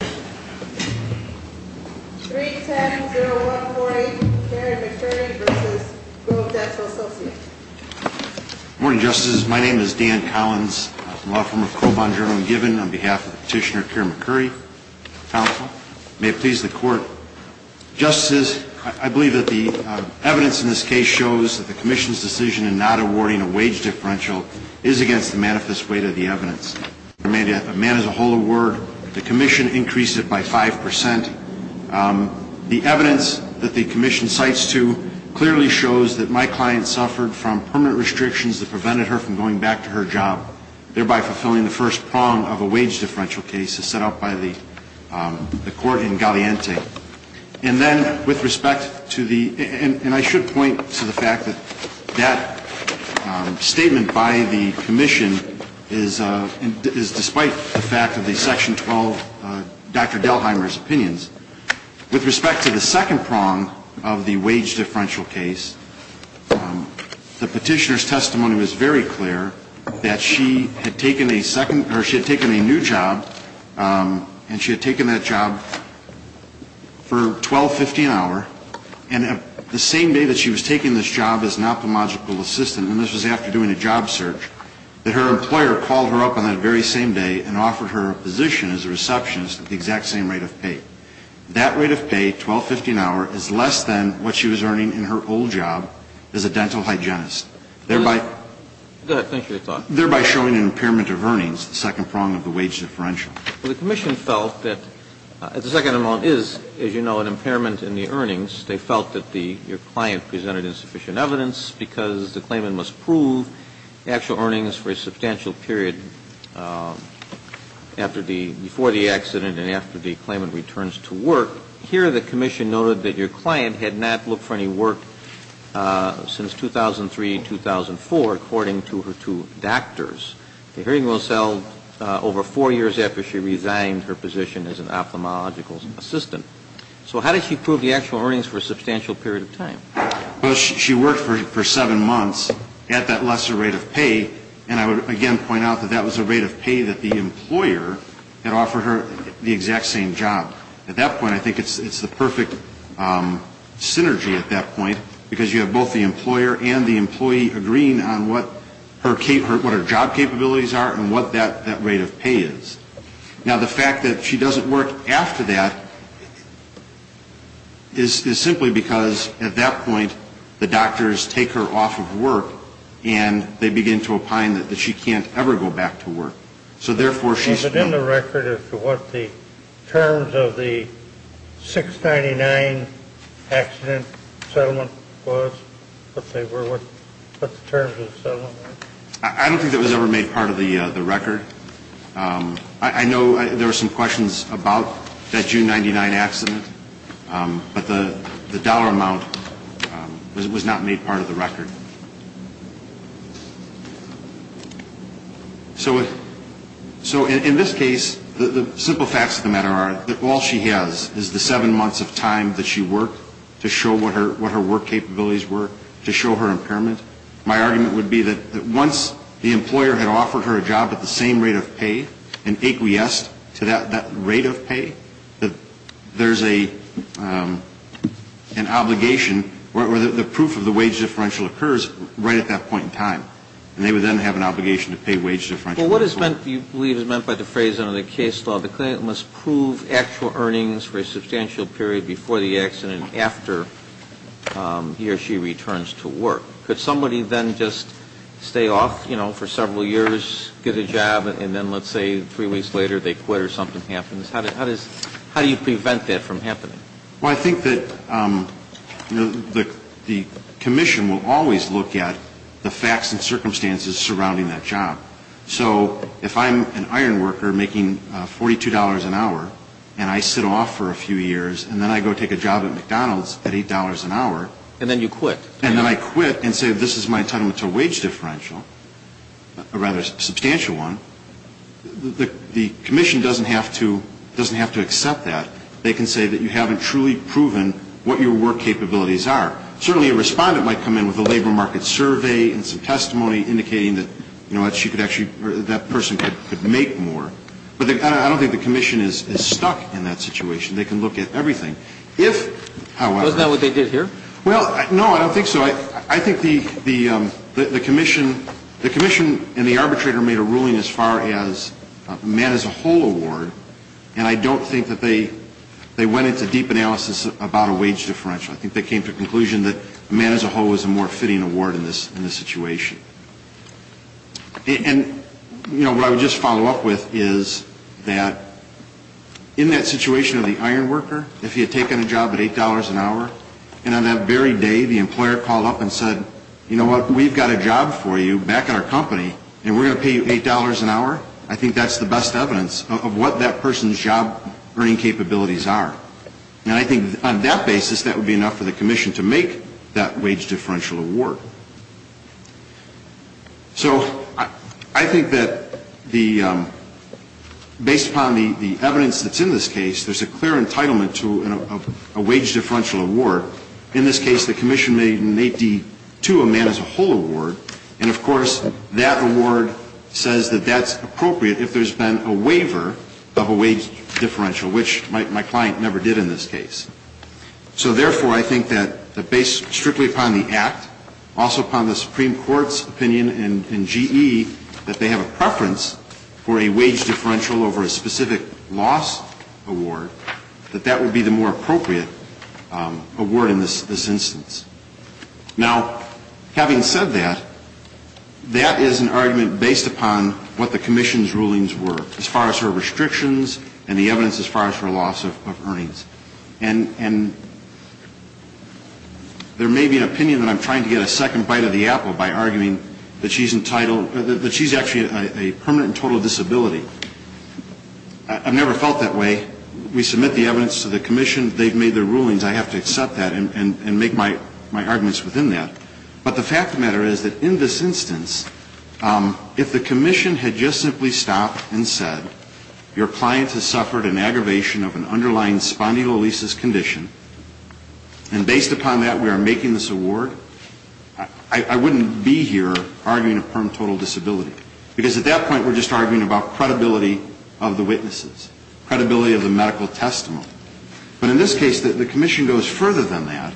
310-0148 Karen McCurrie v. Grove Dental Associates Good morning, Justices. My name is Dan Collins. I'm from the law firm of Crow Bond Journal and Given on behalf of Petitioner Karen McCurrie. Counsel, may it please the Court. Justices, I believe that the evidence in this case shows that the Commission's decision in not awarding a wage differential is against the manifest weight of the evidence. A man is a whole of word. The Commission increased it by 5%. The evidence that the Commission cites, too, clearly shows that my client suffered from permanent restrictions that prevented her from going back to her job, thereby fulfilling the first prong of a wage differential case as set out by the Court in Galliante. And then, with respect to the – and I should point to the fact that that statement by the Commission is despite the fact of the Section 12 Dr. Delheimer's opinions. With respect to the second prong of the wage differential case, the Petitioner's testimony was very clear that she had taken a second – or she had taken a new job and she had taken that job for $12.50 an hour. And the same day that she was taking this job as an ophthalmological assistant, and this was after doing a job search, that her employer called her up on that very same day and offered her a position as a receptionist at the exact same rate of pay. That rate of pay, $12.50 an hour, is less than what she was earning in her old job as a dental hygienist, thereby – Go ahead. Thank you for your time. thereby showing an impairment of earnings, the second prong of the wage differential. Well, the Commission felt that – the second prong is, as you know, an impairment in the earnings. They felt that the – your client presented insufficient evidence because the claimant must prove actual earnings for a substantial period after the – before the accident and after the claimant returns to work. But here the Commission noted that your client had not looked for any work since 2003, 2004, according to her two doctors. The hearing was held over four years after she resigned her position as an ophthalmological assistant. So how did she prove the actual earnings for a substantial period of time? Well, she worked for seven months at that lesser rate of pay. And I would, again, point out that that was a rate of pay that the employer had offered her the exact same job. At that point, I think it's the perfect synergy at that point, because you have both the employer and the employee agreeing on what her job capabilities are and what that rate of pay is. Now, the fact that she doesn't work after that is simply because at that point the doctors take her off of work and they begin to opine that she can't ever go back to work. So therefore, she's – Was it in the record as to what the terms of the 699 accident settlement was, what they were, what the terms of the settlement were? I don't think that was ever made part of the record. I know there were some questions about that June 99 accident, but the dollar amount was not made part of the record. So in this case, the simple facts of the matter are that all she has is the seven months of time that she worked to show what her work capabilities were, to show her impairment. My argument would be that once the employer had offered her a job at the same rate of pay and acquiesced to that rate of pay, that there's an obligation where the proof of the wage differential occurs right at that point in time. And they would then have an obligation to pay wage differential. Well, what is meant, you believe, is meant by the phrase under the case law, the client must prove actual earnings for a substantial period before the accident after he or she returns to work. Could somebody then just stay off, you know, for several years, get a job, and then let's say three weeks later they quit or something happens? How do you prevent that from happening? Well, I think that the commission will always look at the facts and circumstances surrounding that job. So if I'm an iron worker making $42 an hour and I sit off for a few years and then I go take a job at McDonald's at $8 an hour. And then you quit. And then I quit and say this is my entitlement to a wage differential, a rather substantial one, the commission doesn't have to accept that. They can say that you haven't truly proven what your work capabilities are. Certainly a respondent might come in with a labor market survey and some testimony indicating that, you know what, that person could make more. But I don't think the commission is stuck in that situation. They can look at everything. Isn't that what they did here? Well, no, I don't think so. I think the commission and the arbitrator made a ruling as far as a man-as-a-whole award, and I don't think that they went into deep analysis about a wage differential. I think they came to the conclusion that a man-as-a-whole was a more fitting award in this situation. And, you know, what I would just follow up with is that in that situation of the iron worker, if he had taken a job at $8 an hour and on that very day the employer called up and said, you know what, we've got a job for you back at our company and we're going to pay you $8 an hour, I think that's the best evidence of what that person's job earning capabilities are. And I think on that basis that would be enough for the commission to make that wage differential award. So I think that the ‑‑ based upon the evidence that's in this case, there's a clear entitlement to a wage differential award. In this case, the commission made an 8D2, a man-as-a-whole award. And, of course, that award says that that's appropriate if there's been a waiver of a wage differential, which my client never did in this case. So, therefore, I think that based strictly upon the act, also upon the Supreme Court's opinion in GE, that they have a preference for a wage differential over a specific loss award, that that would be the more appropriate award in this instance. Now, having said that, that is an argument based upon what the commission's rulings were, as far as her restrictions and the evidence as far as her loss of earnings. And there may be an opinion that I'm trying to get a second bite of the apple by arguing that she's entitled ‑‑ that she's actually a permanent and total disability. I've never felt that way. We submit the evidence to the commission. They've made their rulings. I have to accept that and make my arguments within that. But the fact of the matter is that in this instance, if the commission had just simply stopped and said, your client has suffered an aggravation of an underlying spondylolisis condition, and based upon that, we are making this award, I wouldn't be here arguing a permanent and total disability. Because at that point, we're just arguing about credibility of the witnesses, credibility of the medical testimony. But in this case, the commission goes further than that,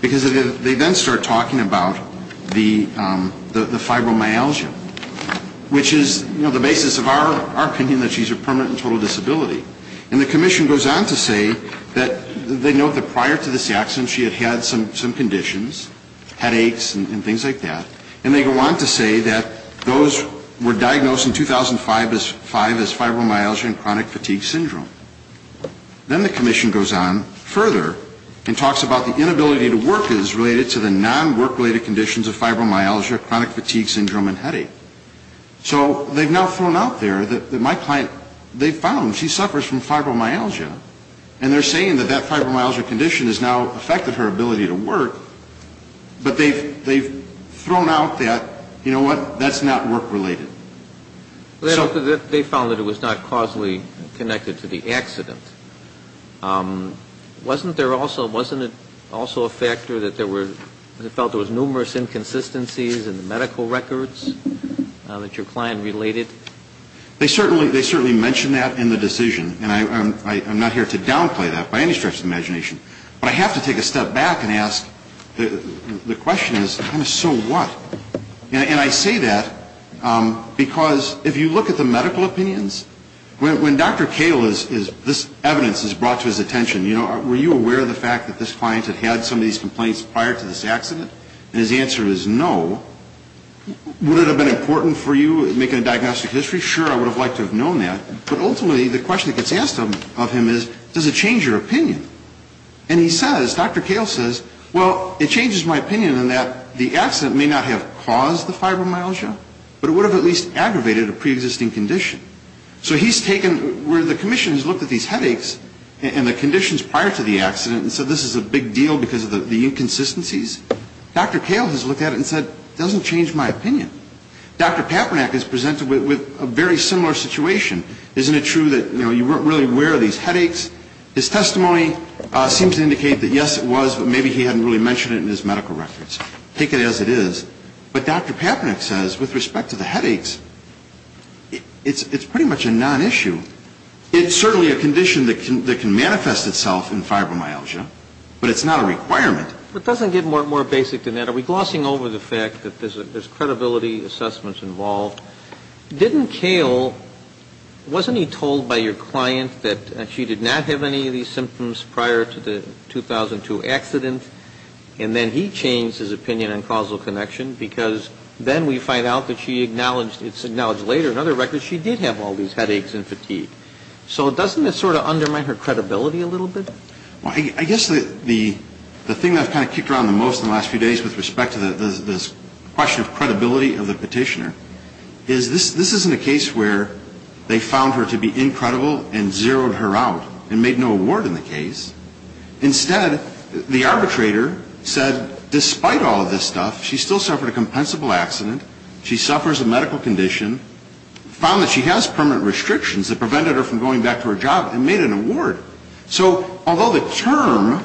because they then start talking about the fibromyalgia, which is the basis of our opinion that she's a permanent and total disability. And the commission goes on to say that they note that prior to this accident, she had had some conditions, headaches and things like that, and they go on to say that those were diagnosed in 2005 as fibromyalgia and chronic fatigue syndrome. Then the commission goes on further and talks about the inability to work as related to the non‑work‑related conditions of fibromyalgia, chronic fatigue syndrome and headache. So they've now thrown out there that my client, they found she suffers from fibromyalgia, and they're saying that that fibromyalgia condition has now affected her ability to work, but they've thrown out that, you know what, that's not work‑related. They found that it was not causally connected to the accident. Wasn't there also, wasn't it also a factor that there were, they felt there was numerous inconsistencies in the medical records that your client related? They certainly mentioned that in the decision, and I'm not here to downplay that by any stretch of the imagination. But I have to take a step back and ask, the question is, so what? And I say that because if you look at the medical opinions, when Dr. Kahle is, this evidence is brought to his attention, you know, were you aware of the fact that this client had had some of these complaints prior to this accident? And his answer is no. Would it have been important for you, making a diagnostic history? Sure, I would have liked to have known that. But ultimately, the question that gets asked of him is, does it change your opinion? And he says, Dr. Kahle says, well, it changes my opinion in that the accident may not have caused the fibromyalgia, but it would have at least aggravated a preexisting condition. So he's taken, where the commission has looked at these headaches and the conditions prior to the accident and said this is a big deal because of the inconsistencies, Dr. Kahle has looked at it and said, it doesn't change my opinion. Dr. Papernak has presented with a very similar situation. Isn't it true that, you know, you weren't really aware of these headaches? His testimony seems to indicate that, yes, it was, but maybe he hadn't really mentioned it in his medical records. Take it as it is. But Dr. Papernak says, with respect to the headaches, it's pretty much a nonissue. It's certainly a condition that can manifest itself in fibromyalgia, but it's not a requirement. But doesn't it get more basic than that? Are we glossing over the fact that there's credibility assessments involved? Didn't Kahle, wasn't he told by your client that she did not have any of these symptoms prior to the 2002 accident? And then he changed his opinion on causal connection because then we find out that she acknowledged, it's acknowledged later in other records, she did have all these headaches and fatigue. So doesn't it sort of undermine her credibility a little bit? Well, I guess the thing that I've kind of kicked around the most in the last few days with respect to this question of credibility of the petitioner is this isn't a case where they found her to be incredible and zeroed her out and made no award in the case. Instead, the arbitrator said, despite all of this stuff, she still suffered a compensable accident. She suffers a medical condition. Found that she has permanent restrictions that prevented her from going back to her job and made an award. So although the term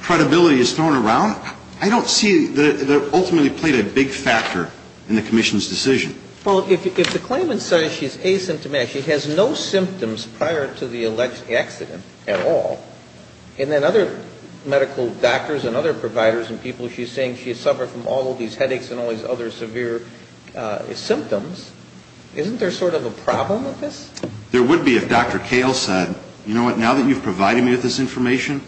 credibility is thrown around, I don't see that it ultimately played a big factor in the commission's decision. Well, if the claimant says she's asymptomatic, she has no symptoms prior to the alleged accident at all. And then other medical doctors and other providers and people, she's saying she has suffered from all of these headaches and all these other severe symptoms. Isn't there sort of a problem with this? There would be if Dr. Kahle said, you know what, now that you've provided me with this information,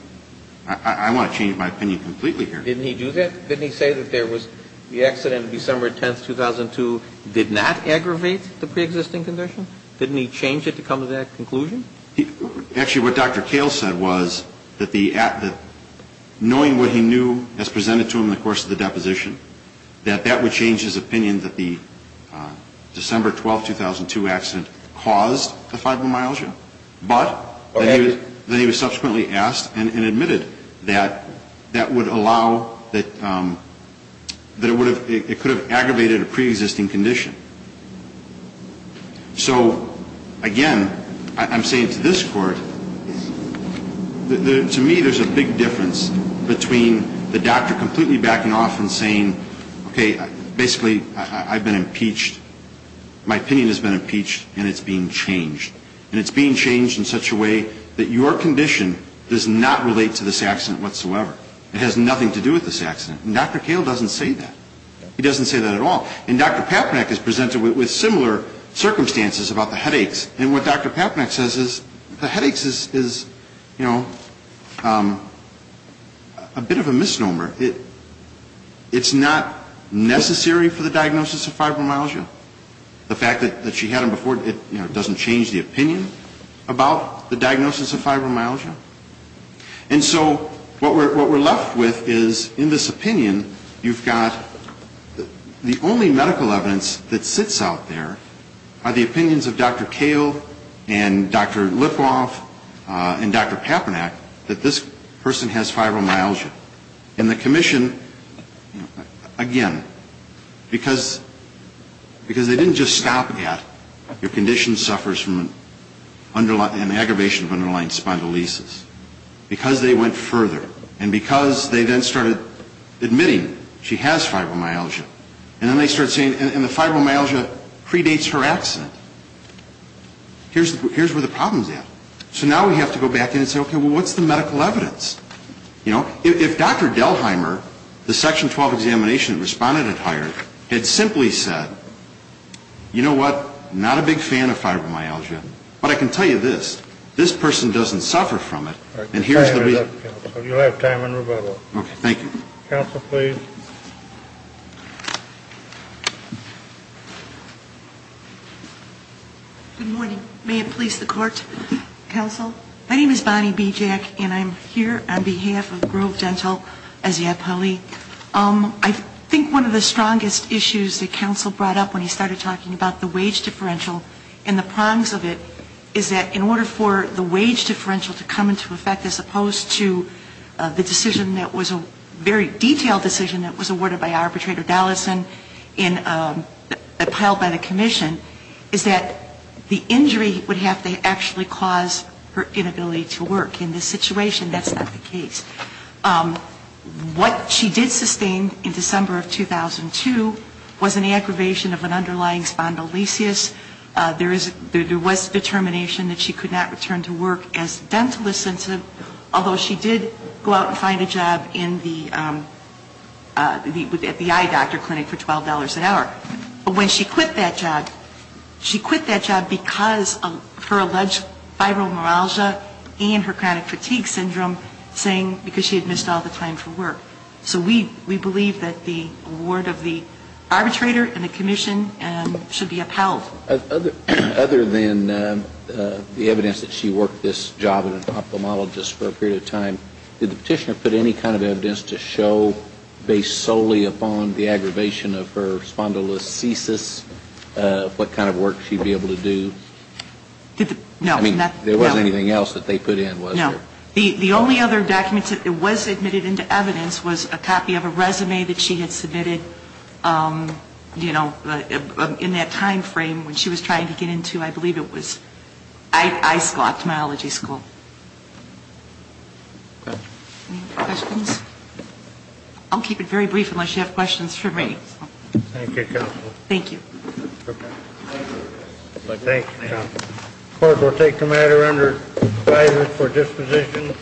I want to change my opinion completely here. Didn't he do that? Didn't he say that there was the accident December 10, 2002 did not aggravate the preexisting condition? Didn't he change it to come to that conclusion? Actually, what Dr. Kahle said was that knowing what he knew as presented to him in the course of the deposition, that that would change his opinion that the December 12, 2002 accident caused the fibromyalgia. But then he was subsequently asked and admitted that that would allow that it could have aggravated a preexisting condition. So, again, I'm saying to this Court, to me there's a big difference between the doctor completely backing off and saying, okay, basically I've been impeached, my opinion has been impeached, and it's being changed. And it's being changed in such a way that your condition does not relate to this accident whatsoever. It has nothing to do with this accident. And Dr. Kahle doesn't say that. He doesn't say that at all. And Dr. Papnak is presented with similar circumstances about the headaches. And what Dr. Papnak says is the headaches is, you know, a bit of a misnomer. It's not necessary for the diagnosis of fibromyalgia. The fact that she had them before, you know, it doesn't change the opinion about the diagnosis of fibromyalgia. And so what we're left with is in this opinion you've got the only medical evidence that sits out there are the opinions of Dr. Kahle and Dr. Lipov and Dr. Papnak that this person has fibromyalgia. And the commission, again, because they didn't just stop at your condition suffers from an aggravation of underlying spondylolisis. Because they went further and because they then started admitting she has fibromyalgia. And then they start saying, and the fibromyalgia predates her accident. Here's where the problem's at. So now we have to go back in and say, okay, well, what's the medical evidence? You know, if Dr. Delheimer, the Section 12 examination respondent it hired, had simply said, you know what, not a big fan of fibromyalgia. But I can tell you this, this person doesn't suffer from it. And here's the reason. You'll have time in rebuttal. Okay, thank you. Counsel, please. Good morning. May it please the Court. Counsel, my name is Bonnie Bijak and I'm here on behalf of Grove Dental as the appellee. I think one of the strongest issues that counsel brought up when he started talking about the wage differential and the prongs of it is that in order for the wage differential to come into effect as opposed to the decision that was a very by arbitrator Dollison and appelled by the commission is that the injury would have to actually cause her inability to work. In this situation, that's not the case. What she did sustain in December of 2002 was an aggravation of an underlying spondylolisthesis. There was determination that she could not return to work as a dental assistant, although she did go out and find a job at the eye doctor clinic for $12 an hour. But when she quit that job, she quit that job because of her alleged fibromyalgia and her chronic fatigue syndrome, saying because she had missed all the time for work. So we believe that the award of the arbitrator and the commission should be upheld. Other than the evidence that she worked this job at an ophthalmologist for a period of time, did the petitioner put any kind of evidence to show based solely upon the aggravation of her spondylolisthesis what kind of work she would be able to do? No. I mean, there wasn't anything else that they put in, was there? No. The only other documents that was admitted into evidence was a copy of a resume that she had submitted, you know, in that time frame when she was trying to get into, I believe it was eye school, ophthalmology school. Any other questions? I'll keep it very brief unless you have questions for me. Thank you, counsel. Thank you. Thank you, counsel. The court will take the matter under advisory for disposition.